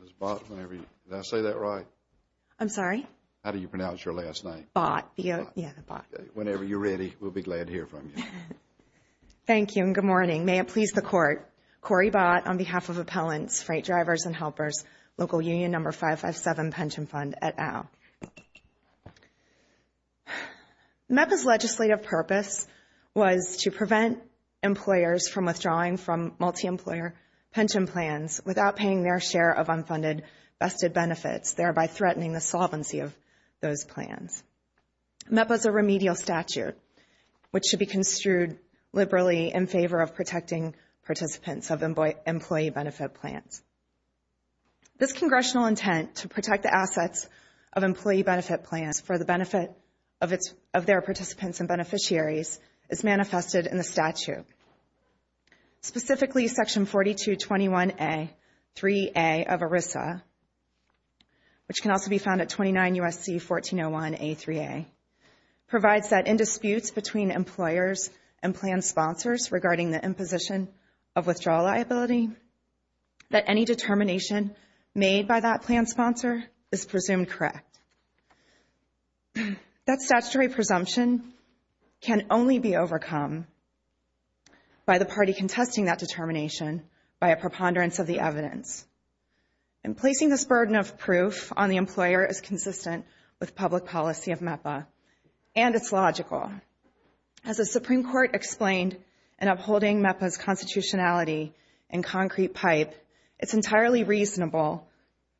Ms. Bott, whenever you're ready, we'll be glad to hear from you. Thank you and good morning. May it please the Court. Cori Bott on behalf of Appellants, Freight Drivers and Helpers, Local Union No. 557 Pension Fund, et al. MEPA's legislative purpose was to prevent employers from withdrawing from multi-employer pension plans without paying their share of unfunded vested benefits, thereby threatening the solvency of those plans. MEPA's a remedial statute, which should be construed liberally in favor of protecting participants of employee benefit plans. This Congressional intent to protect the assets of employee benefit plans for the benefit of their participants and beneficiaries is manifested in the statute. Specifically, Section 4221A-3A of ERISA, which can also be found at 29 U.S.C. 1401A-3A, provides that in disputes between employers and plan sponsors regarding the imposition of withdrawal liability, that any determination made by that plan sponsor is presumed correct. That statutory presumption can only be overcome by the party contesting that determination by a preponderance of the evidence. And placing this burden of proof on the employer is consistent with public policy of MEPA, and it's logical. As the Supreme Court explained in upholding MEPA's constitutionality in Concrete Pipe, it's entirely reasonable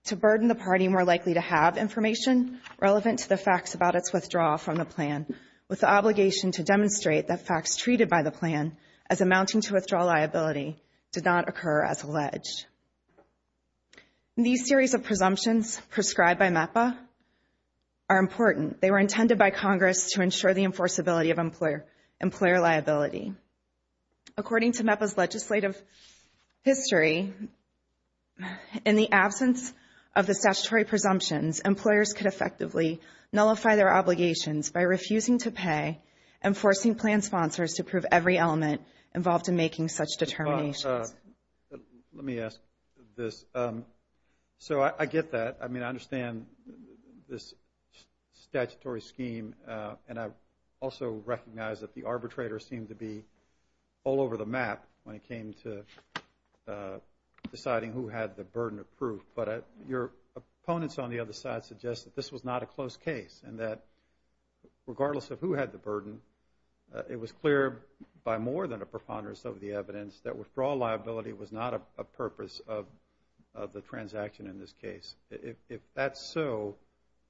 to burden the party more likely to have information relevant to the facts about its withdrawal from the plan, with the obligation to demonstrate that facts treated by the plan as amounting to withdrawal liability did not occur as alleged. These series of presumptions prescribed by MEPA are important. They were intended by Congress to ensure the enforceability of employer liability. According to MEPA's legislative history, in the absence of the statutory presumptions, employers could effectively nullify their obligations by refusing to pay and forcing plan sponsors to prove every element involved in making such determinations. Let me ask this. So I get that. I mean, I understand this statutory scheme, and I also recognize that the arbitrator seemed to be all over the map when it came to deciding who had the burden of proof. But your opponents on the other side suggest that this was not a close case, and that regardless of who had the burden, it was clear by more than a preponderance of the evidence that withdrawal liability was not a purpose of the transaction in this case. If that's so,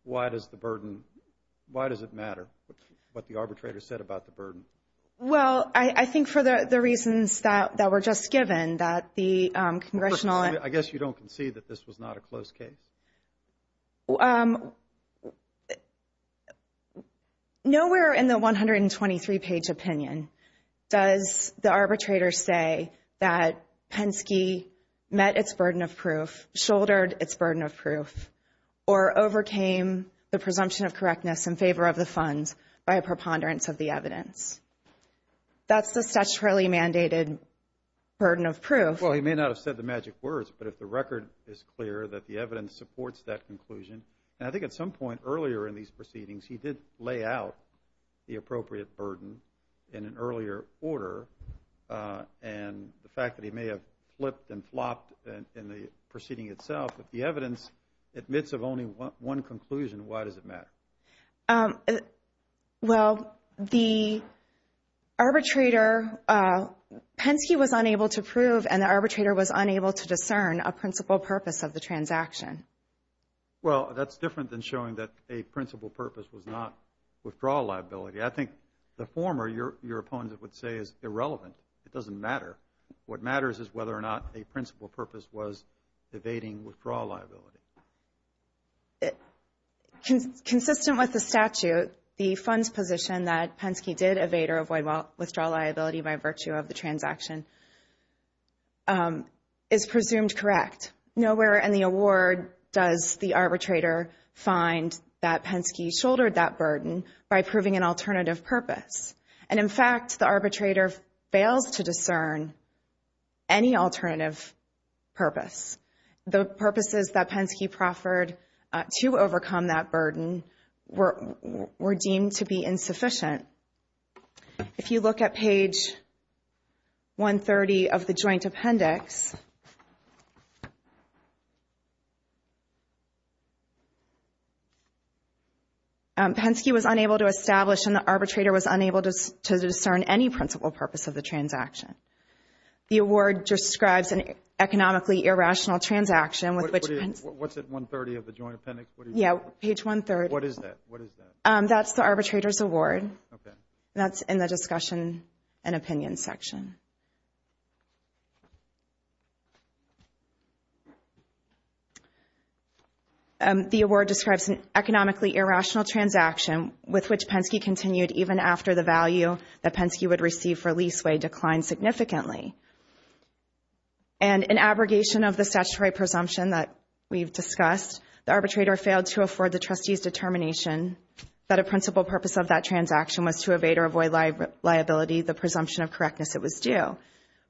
why does the burden – why does it matter what the arbitrator said about the burden? Well, I think for the reasons that were just given, that the congressional – I guess you don't concede that this was not a close case? Well, nowhere in the 123-page opinion does the arbitrator say that Penske met its burden of proof, shouldered its burden of proof, or overcame the presumption of correctness in favor of the funds by a preponderance of the evidence. That's the statutorily mandated burden of proof. Well, he may not have said the magic words, but if the record is clear that the evidence supports that conclusion, and I think at some point earlier in these proceedings he did lay out the appropriate burden in an earlier order, and the fact that he may have flipped and flopped in the proceeding itself, if the evidence admits of only one conclusion, why does it matter? Well, the arbitrator – Penske was unable to prove, and the arbitrator was unable to discern a principal purpose of the transaction. Well, that's different than showing that a principal purpose was not withdrawal liability. I think the former, your opponent would say, is irrelevant. It doesn't matter. What matters is whether or not a principal purpose was evading withdrawal liability. Consistent with the statute, the funds position that Penske did evade or avoid withdrawal liability by virtue of the transaction is presumed correct. Nowhere in the award does the arbitrator find that Penske shouldered that burden by proving an alternative purpose. And in fact, the arbitrator fails to discern any alternative purpose. The purposes that Penske proffered to overcome that burden were deemed to be insufficient. If you look at page 130 of the joint appendix, Penske was unable to establish, and the arbitrator was unable to discern any principal purpose of the transaction. The award describes an economically irrational transaction with which – What's at 130 of the joint appendix? Yeah, page 130. What is that? What is that? That's the arbitrator's award. Okay. That's in the discussion and opinion section. The award describes an economically irrational transaction with which Penske continued even after the value that Penske would receive for leaseway declined significantly. And in abrogation of the statutory presumption that we've discussed, the arbitrator failed to afford the trustee's determination that a principal purpose of that transaction was to evade or avoid liability, the presumption of correctness it was due.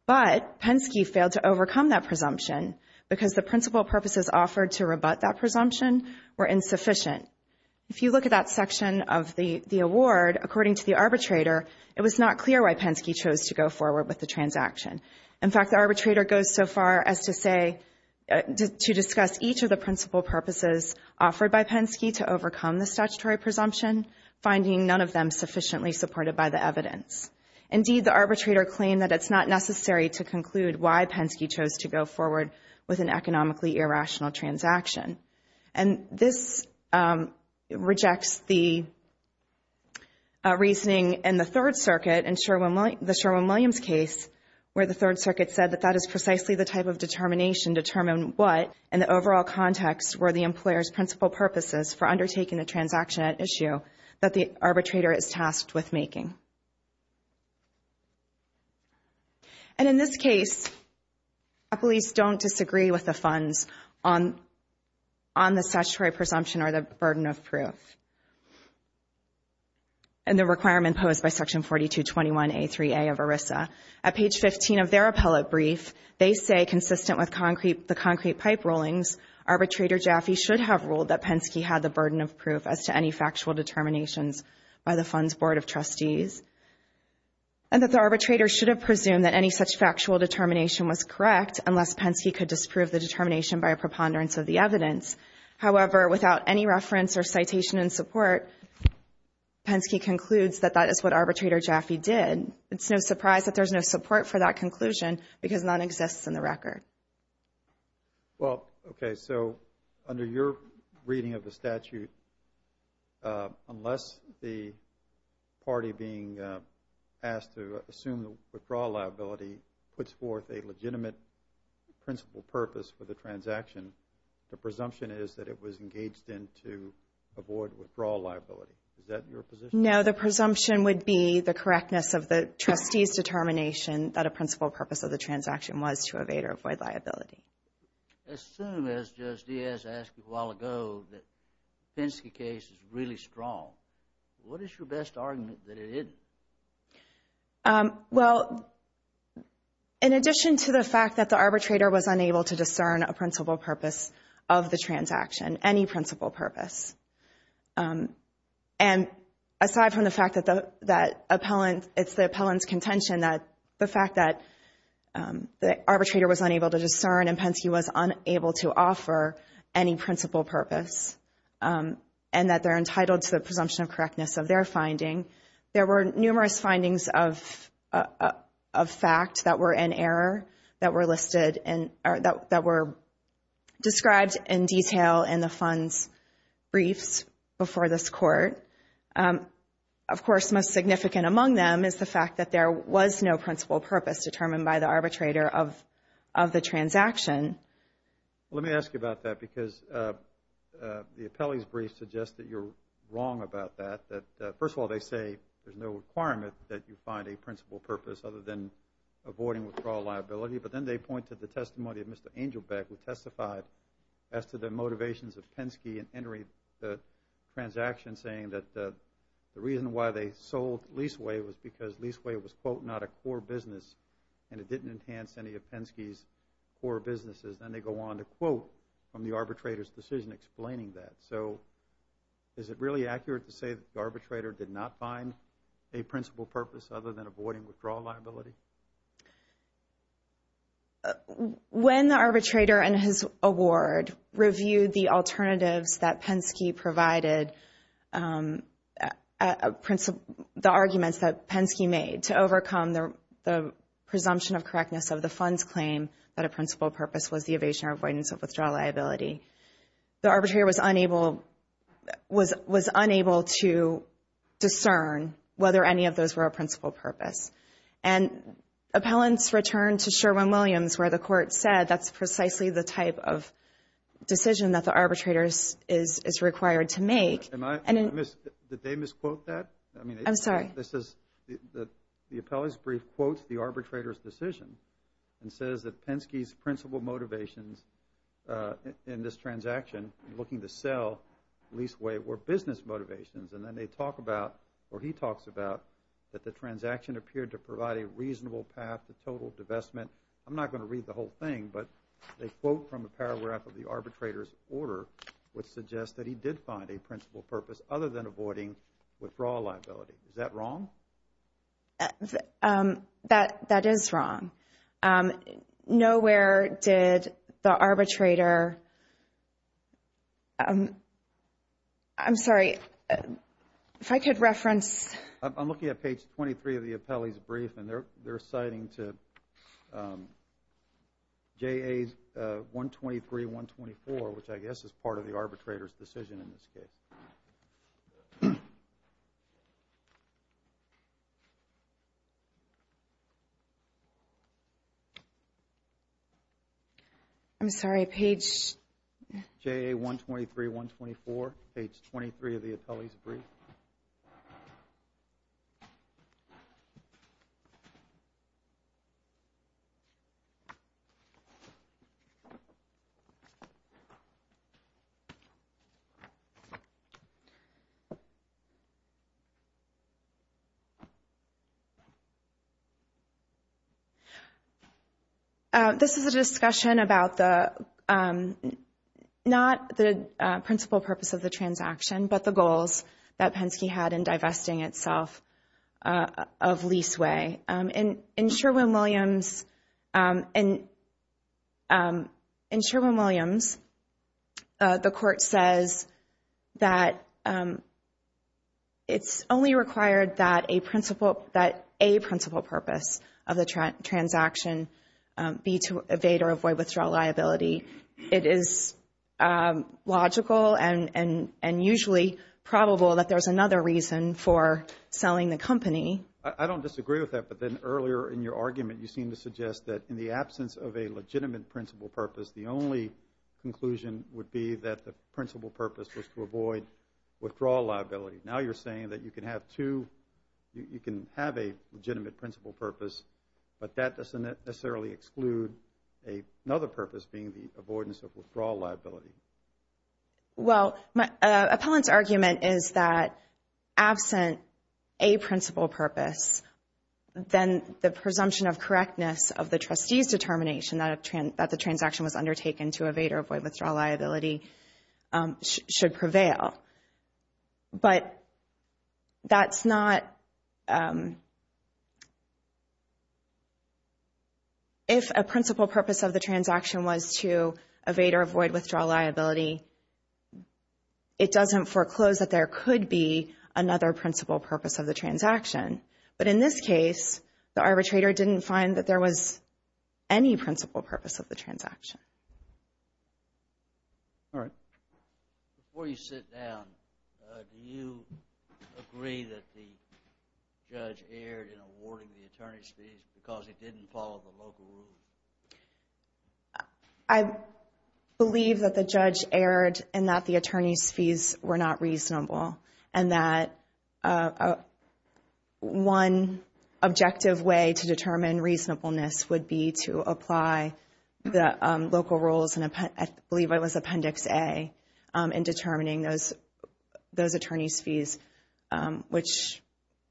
But Penske failed to overcome that presumption because the principal purposes offered to rebut that presumption were insufficient. If you look at that section of the award, according to the arbitrator, it was not clear why Penske chose to go forward with the transaction. In fact, the arbitrator goes so far as to say – to discuss each of the principal purposes offered by Penske to overcome the statutory presumption, finding none of them sufficiently supported by the evidence. Indeed, the arbitrator claimed that it's not necessary to conclude why Penske chose to go forward with an economically irrational transaction. And this rejects the reasoning in the Third Circuit in the Sherwin-Williams case where the Third Circuit said that that is precisely the type of determination to determine what, in the overall context, were the employer's principal purposes for undertaking a transaction at issue that the arbitrator is tasked with making. And in this case, appellees don't disagree with the funds on the statutory presumption or the burden of proof and the requirement posed by Section 4221A3A of ERISA. At page 15 of their appellate brief, they say, consistent with the concrete pipe rulings, arbitrator Jaffe should have ruled that Penske had the burden of proof as to any factual determinations by the Funds Board of Trustees. And that the arbitrator should have presumed that any such factual determination was correct unless Penske could disprove the determination by a preponderance of the evidence. However, without any reference or citation in support, Penske concludes that that is what arbitrator Jaffe did. It's no surprise that there's no support for that conclusion because none exists in the record. Well, okay, so under your reading of the statute, unless the party being asked to assume the withdrawal liability puts forth a legitimate principal purpose for the transaction, the presumption is that it was engaged in to avoid withdrawal liability. Is that your position? No, the presumption would be the correctness of the trustee's determination that a principal purpose of the transaction was to evade or avoid liability. As soon as Judge Diaz asked you a while ago that the Penske case is really strong, what is your best argument that it isn't? Well, in addition to the fact that the arbitrator was unable to discern a principal purpose of the transaction, any principal purpose, and aside from the fact that the appellant, it's the appellant's contention that the fact that the arbitrator was unable to discern and Penske was unable to offer any principal purpose and that they're entitled to the presumption of correctness of their finding, there were numerous findings of fact that were in error that were listed and that were described in detail in the fund's briefs before this court. Of course, most significant among them is the fact that there was no principal purpose determined by the arbitrator of the transaction. Let me ask you about that because the appellee's brief suggests that you're wrong about that. First of all, they say there's no requirement that you find a principal purpose other than avoiding withdrawal liability, but then they point to the testimony of Mr. Angelbeck who testified as to the motivations of Penske in entering the transaction saying that the reason why they sold Leaseway was because Leaseway was, quote, not a core business and it didn't enhance any of Penske's core businesses. Then they go on to quote from the arbitrator's decision explaining that. So is it really accurate to say that the arbitrator did not find a principal purpose other than avoiding withdrawal liability? When the arbitrator and his award reviewed the alternatives that Penske provided, the arguments that Penske made to overcome the presumption of correctness of the fund's claim that a principal purpose was the evasion or avoidance of withdrawal liability, the arbitrator was unable to discern whether any of those were a principal purpose. And appellants return to Sherwin-Williams where the court said that's precisely the type of decision that the arbitrator is required to make. Did they misquote that? I'm sorry. The appellant's brief quotes the arbitrator's decision and says that Penske's principal motivations in this transaction looking to sell Leaseway were business motivations, and then they talk about or he talks about that the transaction appeared to provide a reasonable path to total divestment. I'm not going to read the whole thing, but they quote from a paragraph of the arbitrator's order which suggests that he did find a principal purpose other than avoiding withdrawal liability. Is that wrong? That is wrong. Nowhere did the arbitrator – I'm sorry. If I could reference. I'm looking at page 23 of the appellee's brief, and they're citing to JA's 123-124, which I guess is part of the arbitrator's decision in this case. I'm sorry. Page? JA 123-124, page 23 of the appellee's brief. I'm sorry. itself of Leaseway. In Sherwin-Williams, the court says that it's only required that a principal purpose of the transaction be to evade or avoid withdrawal liability. It is logical and usually probable that there's another reason for selling the company. I don't disagree with that, but then earlier in your argument, you seemed to suggest that in the absence of a legitimate principal purpose, the only conclusion would be that the principal purpose was to avoid withdrawal liability. Now you're saying that you can have two – you can have a legitimate principal purpose, but that doesn't necessarily exclude another purpose being the avoidance of withdrawal liability. Well, appellant's argument is that absent a principal purpose, then the presumption of correctness of the trustee's determination that the transaction was undertaken to evade or avoid withdrawal liability should prevail. But that's not – if a principal purpose of the transaction was to evade or avoid withdrawal liability, it doesn't foreclose that there could be another principal purpose of the transaction. But in this case, the arbitrator didn't find that there was any principal purpose of the transaction. All right. Before you sit down, do you agree that the judge erred in awarding the attorney's fees because he didn't follow the local rule? I believe that the judge erred and that the attorney's fees were not reasonable and that one objective way to determine reasonableness would be to apply the local rules, and I believe it was Appendix A, in determining those attorney's fees, which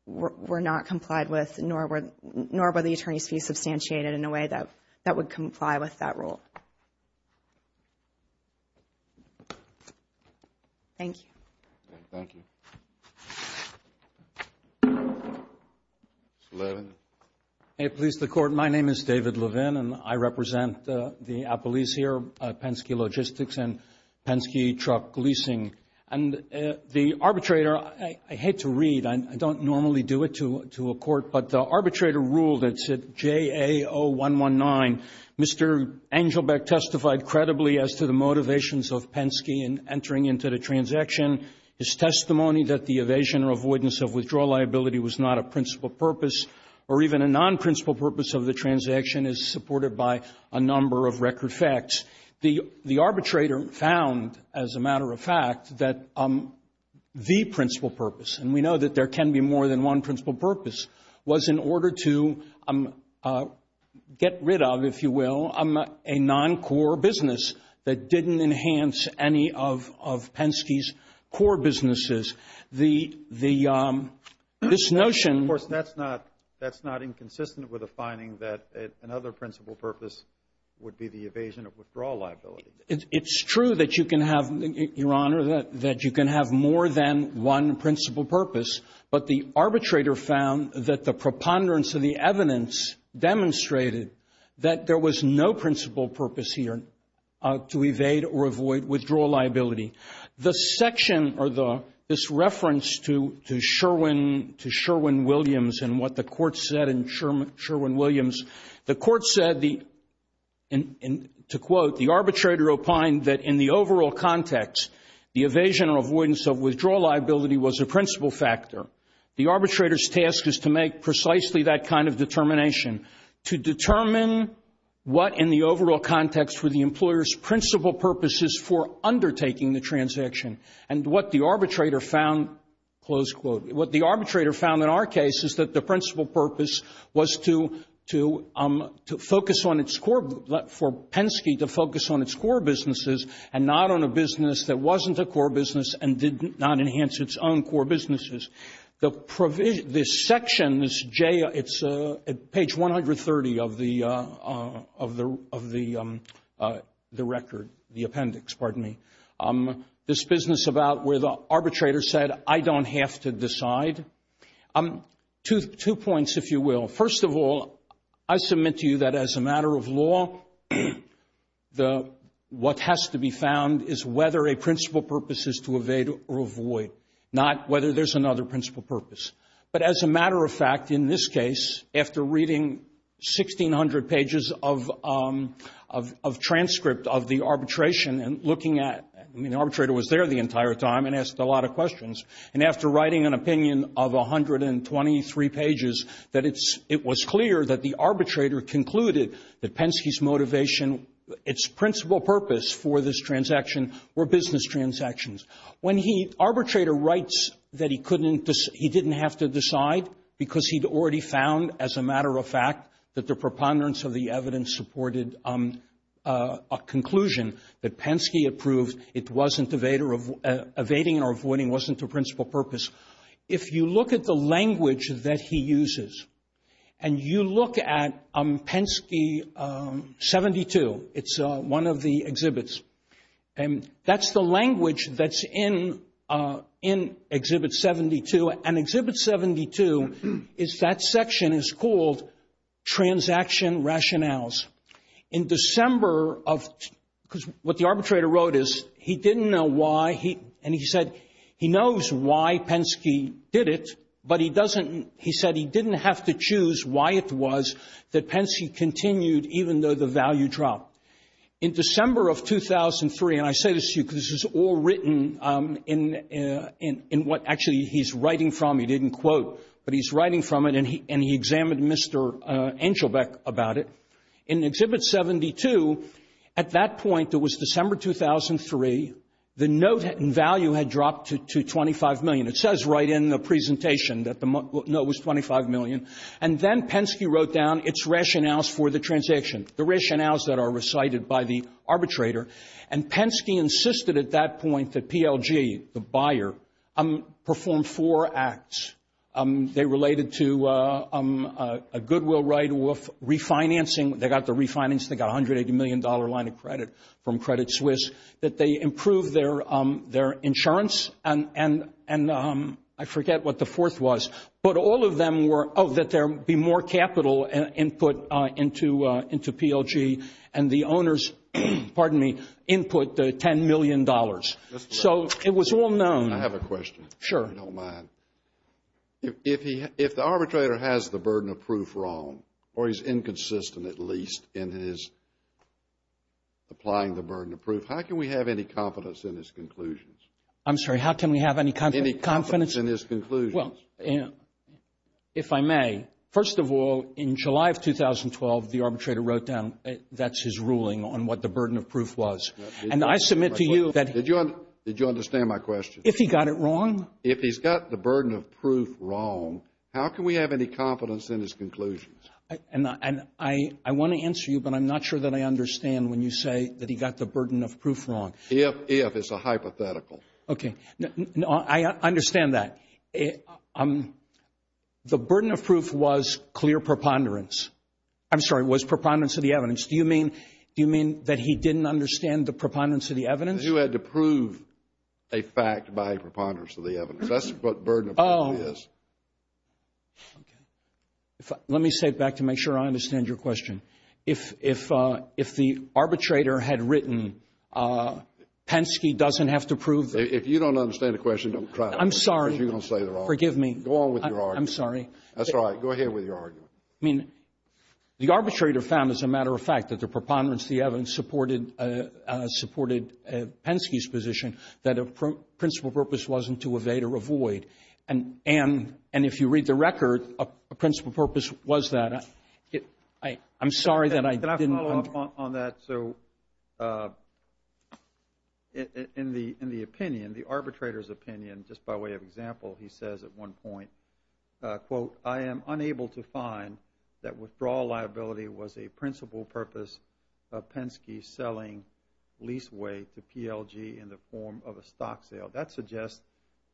were not complied with, nor were the attorney's fees substantiated in a way that would comply with that rule. All right. Thank you. Thank you. Mr. Levin. May it please the Court, my name is David Levin, and I represent the appellees here, Penske Logistics and Penske Truck Leasing. And the arbitrator – I hate to read, I don't normally do it to a court, but the arbitrator ruled, it's at JA0119, Mr. Angelbeck testified credibly as to the motivations of Penske in entering into the transaction. His testimony that the evasion or avoidance of withdrawal liability was not a principal purpose or even a non-principal purpose of the transaction is supported by a number of record facts. The arbitrator found, as a matter of fact, that the principal purpose, and we know that there can be more than one principal purpose, was in order to get rid of, if you will, a non-core business that didn't enhance any of Penske's core businesses. The – this notion – Of course, that's not inconsistent with a finding that another principal purpose would be the evasion of withdrawal liability. It's true that you can have, Your Honor, that you can have more than one principal purpose, but the arbitrator found that the preponderance of the evidence demonstrated that there was no principal purpose here to evade or avoid withdrawal liability. The section, or this reference to Sherwin Williams and what the court said in Sherwin Williams, the court said, to quote, the arbitrator opined that in the overall context, the evasion or avoidance of withdrawal liability was a principal factor. The arbitrator's task is to make precisely that kind of determination, to determine what, in the overall context, were the employer's principal purposes for undertaking the transaction. And what the arbitrator found, close quote, what the arbitrator found in our case is that the principal purpose was to focus on its core – for Penske to focus on its core businesses and not on a business that wasn't a core business and did not enhance its own core businesses. The – this section, this J, it's page 130 of the record, the appendix, pardon me, this business about where the arbitrator said, I don't have to decide. Two points, if you will. First of all, I submit to you that as a matter of law, what has to be found is whether a principal purpose is to evade or avoid, not whether there's another principal purpose. But as a matter of fact, in this case, after reading 1,600 pages of transcript of the arbitration and looking at – I mean, the arbitrator was there the entire time and asked a lot of questions. And after writing an opinion of 123 pages, that it's – it was clear that the arbitrator concluded that Penske's motivation, its principal purpose for this transaction were business transactions. When he – arbitrator writes that he couldn't – he didn't have to decide because he'd already found, as a matter of fact, that the preponderance of the evidence supported a conclusion that Penske approved. It wasn't evading or avoiding, wasn't the principal purpose. If you look at the language that he uses and you look at Penske 72, it's one of the exhibits. And that's the language that's in Exhibit 72. And Exhibit 72 is – that section is called Transaction Rationales. In December of – because what the arbitrator wrote is he didn't know why he – and he said he knows why Penske did it, but he doesn't – he said he didn't have to choose why it was that Penske continued even though the value dropped. In December of 2003 – and I say this to you because this is all written in what actually he's writing from. He didn't quote, but he's writing from it, and he examined Mr. Angelbeck about it. In Exhibit 72, at that point, it was December 2003, the note and value had dropped to 25 million. It says right in the presentation that the note was 25 million. And then Penske wrote down its rationales for the transaction, the rationales that are recited by the arbitrator. And Penske insisted at that point that PLG, the buyer, perform four acts. They related to a goodwill right of refinancing. They got the refinance. They got $180 million line of credit from Credit Suisse that they improved their insurance. And I forget what the fourth was. But all of them were – oh, that there be more capital input into PLG. And the owners, pardon me, input $10 million. So it was all known. I have a question. Sure. If the arbitrator has the burden of proof wrong, or he's inconsistent at least in his applying the burden of proof, how can we have any confidence in his conclusions? I'm sorry, how can we have any confidence? In his conclusions. Well, if I may, first of all, in July of 2012, the arbitrator wrote down that's his ruling on what the burden of proof was. And I submit to you that – Did you understand my question? If he got it wrong? If he's got the burden of proof wrong, how can we have any confidence in his conclusions? And I want to answer you, but I'm not sure that I understand when you say that he got the burden of proof wrong. If it's a hypothetical. Okay. No, I understand that. The burden of proof was clear preponderance. I'm sorry, it was preponderance of the evidence. Do you mean that he didn't understand the preponderance of the evidence? He had to prove a fact by preponderance of the evidence. That's what burden of proof is. Oh, okay. Let me say it back to make sure I understand your question. If the arbitrator had written, Penske doesn't have to prove – If you don't understand the question, don't try to – I'm sorry. Because you're going to say they're wrong. Forgive me. Go on with your argument. I'm sorry. That's all right. Go ahead with your argument. I mean, the arbitrator found, as a matter of fact, that the preponderance of the evidence supported Penske's position that a principal purpose wasn't to evade or avoid. And if you read the record, a principal purpose was that. I'm sorry that I didn't – On that, so in the opinion, the arbitrator's opinion, just by way of example, he says at one point, quote, I am unable to find that withdrawal liability was a principal purpose of Penske selling leaseway to PLG in the form of a stock sale. That suggests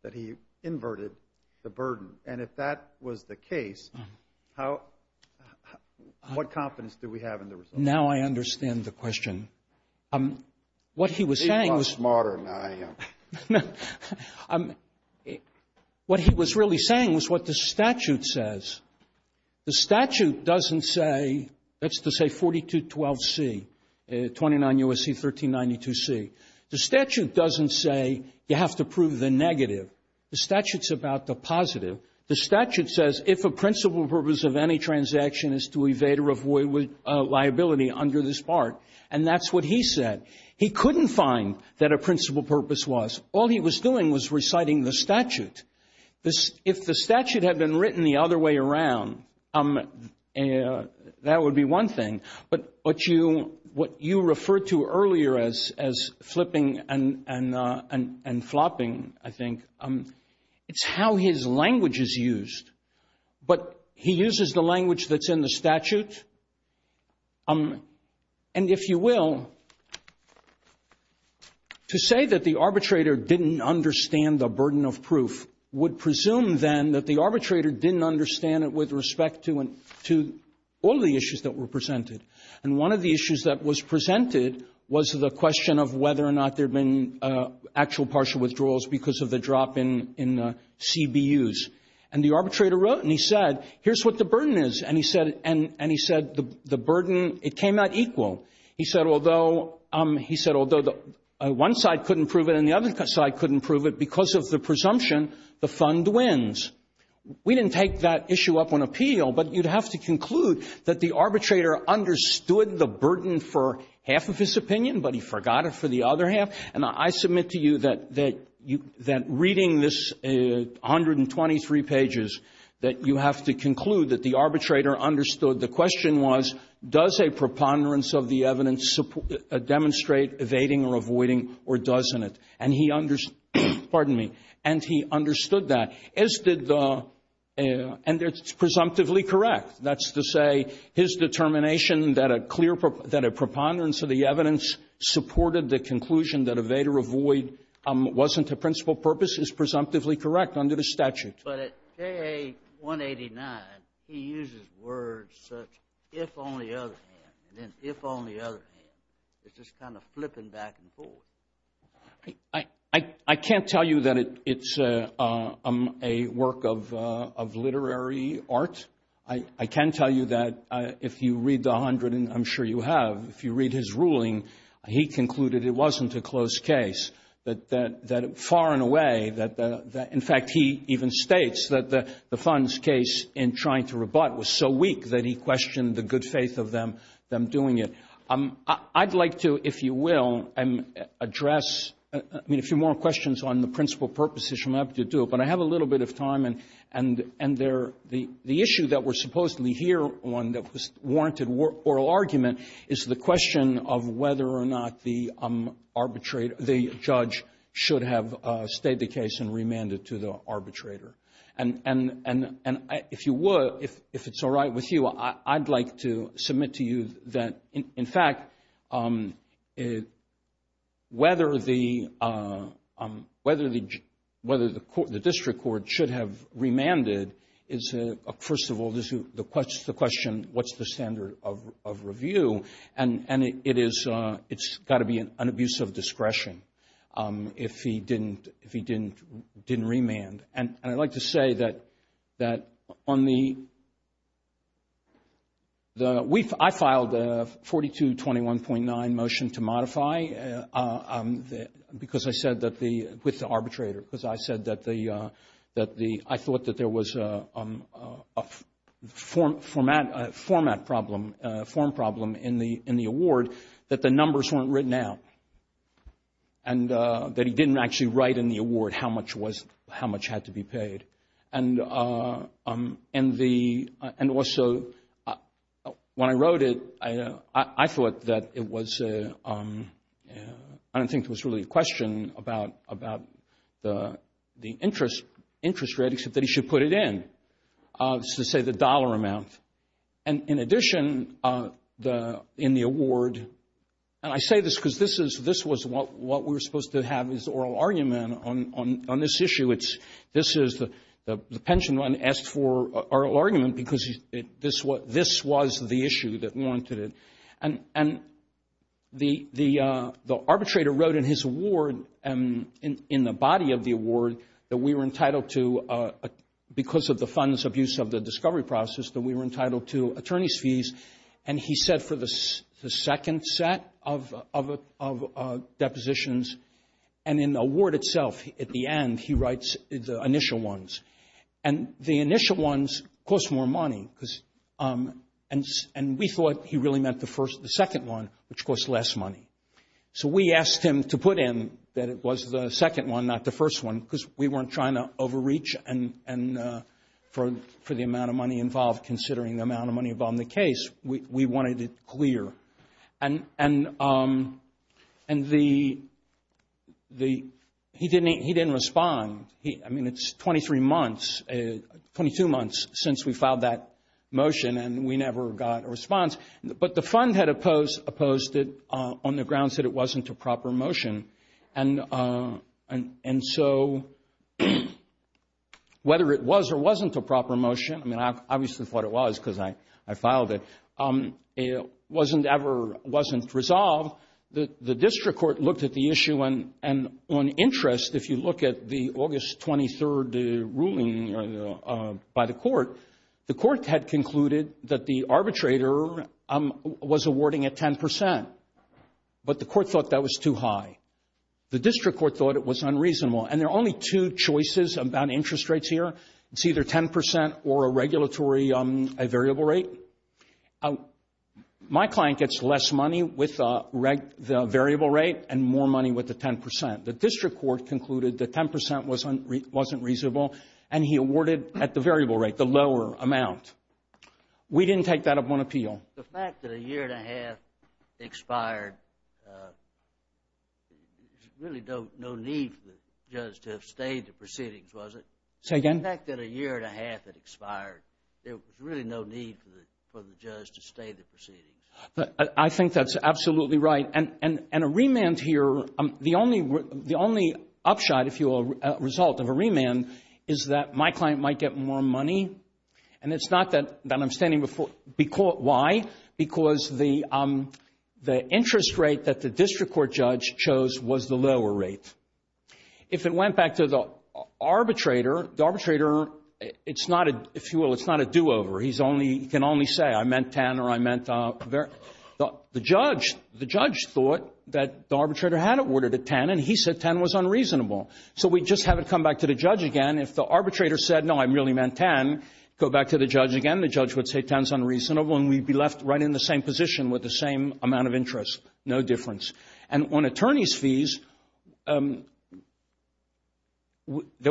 that he inverted the burden. And if that was the case, what confidence do we have in the results? Now I understand the question. What he was saying was – You are smarter than I am. What he was really saying was what the statute says. The statute doesn't say – that's to say 4212C, 29 U.S.C., 1392C. The statute doesn't say you have to prove the negative. The statute's about the positive. The statute says if a principal purpose of any transaction is to evade or avoid liability under this part. And that's what he said. He couldn't find that a principal purpose was. All he was doing was reciting the statute. If the statute had been written the other way around, that would be one thing. But what you referred to earlier as flipping and flopping, I think, it's how his language is used. But he uses the language that's in the statute. And if you will, to say that the arbitrator didn't understand the burden of proof would presume, then, that the arbitrator didn't understand it with respect to all the issues that were presented. And one of the issues that was presented was the question of whether or not there had been actual partial withdrawals because of the drop in CBUs. And the arbitrator wrote and he said, here's what the burden is. And he said the burden, it came out equal. He said, although one side couldn't prove it and the other side couldn't prove it because of the presumption, the fund wins. We didn't take that issue up on appeal, but you'd have to conclude that the arbitrator understood the burden for half of his opinion, but he forgot it for the other half. And I submit to you that reading this 123 pages, that you have to conclude that the arbitrator understood. The question was, does a preponderance of the evidence demonstrate evading or avoiding or doesn't it? And he understood that. And it's presumptively correct. That's to say his determination that a clear, that a preponderance of the evidence supported the conclusion that evade or avoid wasn't a principal purpose is presumptively correct under the statute. But at KA 189, he uses words such if on the other hand and then if on the other hand. It's just kind of flipping back and forth. I can't tell you that it's a work of literary art. I can tell you that if you read the 100, and I'm sure you have, if you read his ruling, he concluded it wasn't a close case, that far and away, in fact, he even states that the fund's case in trying to rebut was so weak that he questioned the good faith of them doing it. I'd like to, if you will, address, I mean, a few more questions on the principal purposes, I'm happy to do it, but I have a little bit of time and the issue that we're supposedly here on that was warranted oral argument is the question of whether or not the judge should have stayed the case and remanded to the arbitrator. And if you would, if it's all right with you, I'd like to submit to you that in fact, whether the district court should have remanded is, first of all, the question, what's the standard of review? And it's got to be an abuse of discretion if he didn't remand. And I'd like to say that on the, I filed a 4221.9 motion to modify because I said that the, with the arbitrator, because I said that the, I thought that there was a format problem, a form problem in the award that the numbers weren't written out, and that he didn't actually write in the award how much had to be paid. And also, when I wrote it, I thought that it was, I don't think it was really a question about the interest rate, except that he should put it in, to say the dollar amount. And in addition, in the award, and I say this because this was what we were supposed to have, his oral argument on this issue. This is, the pension run asked for oral argument because this was the issue that warranted it. And the arbitrator wrote in his award, in the body of the award, that we were entitled to, because of the funds abuse of the discovery process, that we were entitled to attorney's fees. And he said for the second set of depositions. And in the award itself, at the end, he writes the initial ones. And the initial ones cost more money, because, and we thought he really meant the first, the second one, which cost less money. So we asked him to put in that it was the second one, not the first one, because we weren't trying to overreach for the amount of money involved, considering the amount of money involved in the case. We wanted it clear. And he didn't respond. I mean, it's 23 months, 22 months, since we filed that motion, and we never got a response. But the fund had opposed it on the grounds that it wasn't a proper motion. And so whether it was or wasn't a proper motion, I mean, I obviously thought it was because I filed it, it wasn't ever, wasn't resolved. The district court looked at the issue, and on interest, if you look at the August 23rd ruling by the court, the court had concluded that the arbitrator was awarding a 10%. But the court thought that was too high. The district court thought it was unreasonable. And there are only two choices about interest rates here. It's either 10% or a regulatory variable rate. My client gets less money with the variable rate and more money with the 10%. The district court concluded that 10% wasn't reasonable, and he awarded at the variable rate, the lower amount. We didn't take that up on appeal. The fact that a year and a half expired, really no need for the judge to have stayed the proceedings, was it? Say again? The fact that a year and a half had expired, there was really no need for the judge to stay the proceedings. I think that's absolutely right. And a remand here, the only upshot, if you will, result of a remand, is that my client might get more money. And it's not that I'm standing before, why? Because the interest rate that the district court judge chose was the lower rate. If it went back to the arbitrator, the arbitrator, it's not a, if you will, it's not a do-over. He can only say, I meant 10 or I meant, the judge, thought that the arbitrator had it awarded at 10, and he said 10 was unreasonable. So we just have it come back to the judge again. If the arbitrator said, no, I really meant 10, go back to the judge again, the judge would say 10's unreasonable, and we'd be left right in the same position with the same amount of interest, no difference. And on attorney's fees, there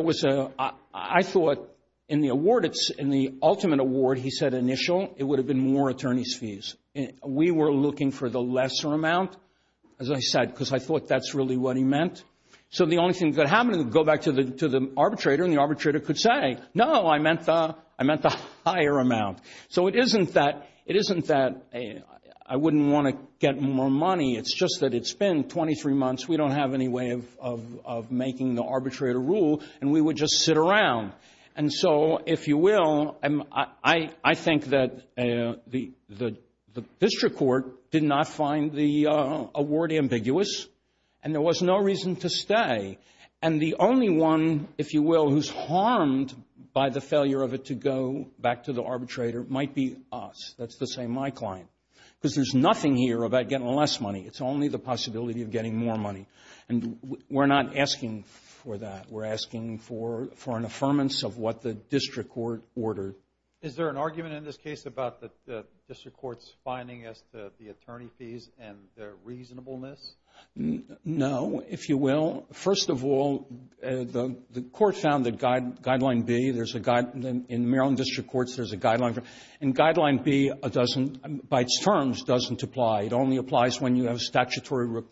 was a, I thought in the award, in the ultimate award, he said initial, it would have been more attorney's fees. We were looking for the lesser amount, as I said, because I thought that's really what he meant. So the only thing that happened, go back to the arbitrator, and the arbitrator could say, no, I meant the higher amount. So it isn't that I wouldn't want to get more money. It's just that it's been 23 months. We don't have any way of making the arbitrator rule, and we would just sit around. And so, if you will, I think that the district court did not find the award ambiguous, and there was no reason to stay. And the only one, if you will, who's harmed by the failure of it to go back to the arbitrator might be us. That's to say my client, because there's nothing here about getting less money. It's only the possibility of getting more money, and we're not asking for that. We're asking for an affirmance of what the district court ordered. Is there an argument in this case about the district court's finding as to the attorney fees and their reasonableness? No, if you will. First of all, the court found that Guideline B, there's a guide, in Maryland district courts, there's a guideline. And Guideline B doesn't, by its terms, doesn't apply. It only applies when you have statutory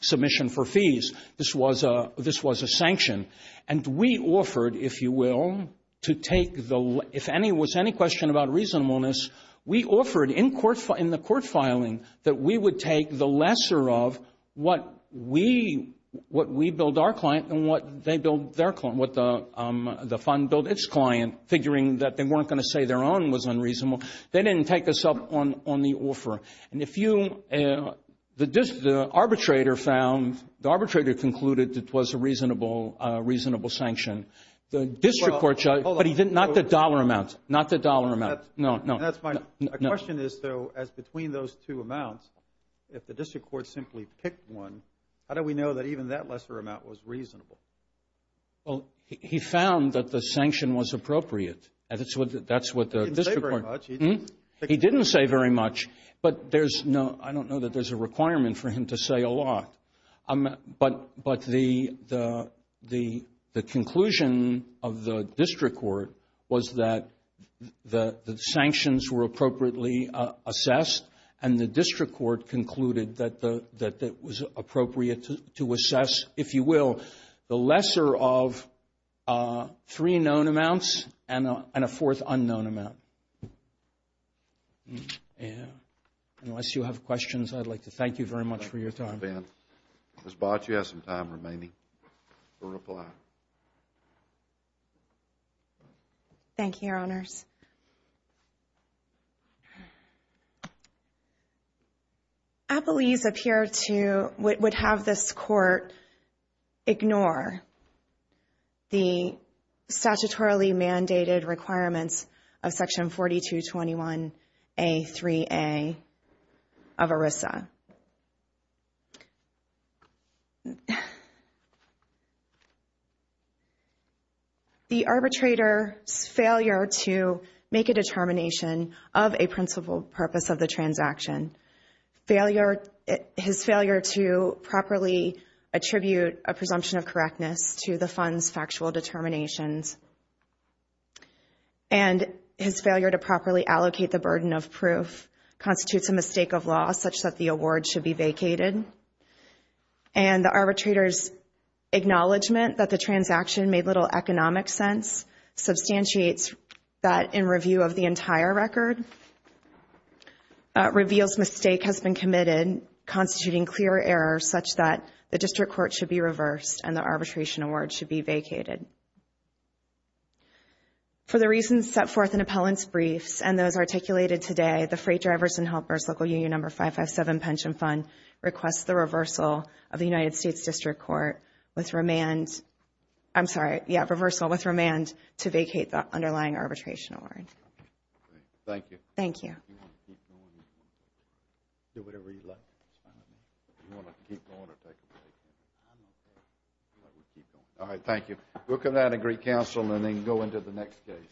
submission for fees. This was a sanction. And we offered, if you will, to take the, if there was any question about reasonableness, we offered in the court filing that we would take the lesser of what we billed our client and what they billed their client, what the fund billed its client, figuring that they weren't going to say their own was unreasonable. They didn't take us up on the offer. And if you, the arbitrator found, the arbitrator concluded it was a reasonable sanction. The district court, but he didn't, not the dollar amount. Not the dollar amount. No, no. That's fine. The question is, though, as between those two amounts, if the district court simply picked one, how do we know that even that lesser amount was reasonable? Well, he found that the sanction was appropriate. That's what the district court. He didn't say very much. But there's no, I don't know that there's a requirement for him to say a lot. But the conclusion of the district court was that the sanctions were appropriately assessed, and the district court concluded that it was appropriate to assess, if you will, the lesser of three known amounts and a fourth unknown amount. Unless you have questions, I'd like to thank you very much for your time. Thank you, Ben. Ms. Bott, you have some time remaining to reply. Thank you, Your Honors. Appellees appear to would have this court ignore the statutorily mandated requirements of Section 4221A3A of ERISA. The arbitrator's failure to make a determination of a principal purpose of the transaction, his failure to properly attribute a presumption of correctness to the fund's factual determinations, and his failure to properly allocate the burden of proof constitutes a mistake of law, such that the award should be vacated. And the arbitrator's acknowledgment that the transaction made little economic sense substantiates that in review of the entire record reveals mistake has been committed, and constituting clear errors such that the district court should be reversed and the arbitration award should be vacated. For the reasons set forth in appellant's briefs and those articulated today, the Freight Drivers and Helpers Local Union Number 557 Pension Fund requests the reversal of the United States District Court with remand to vacate the underlying arbitration award. Thank you. Thank you. You want to keep going? Do whatever you like. You want to keep going or take a break? I'm okay. All right, we'll keep going. All right, thank you. We'll come down and greet counsel and then go into the next case.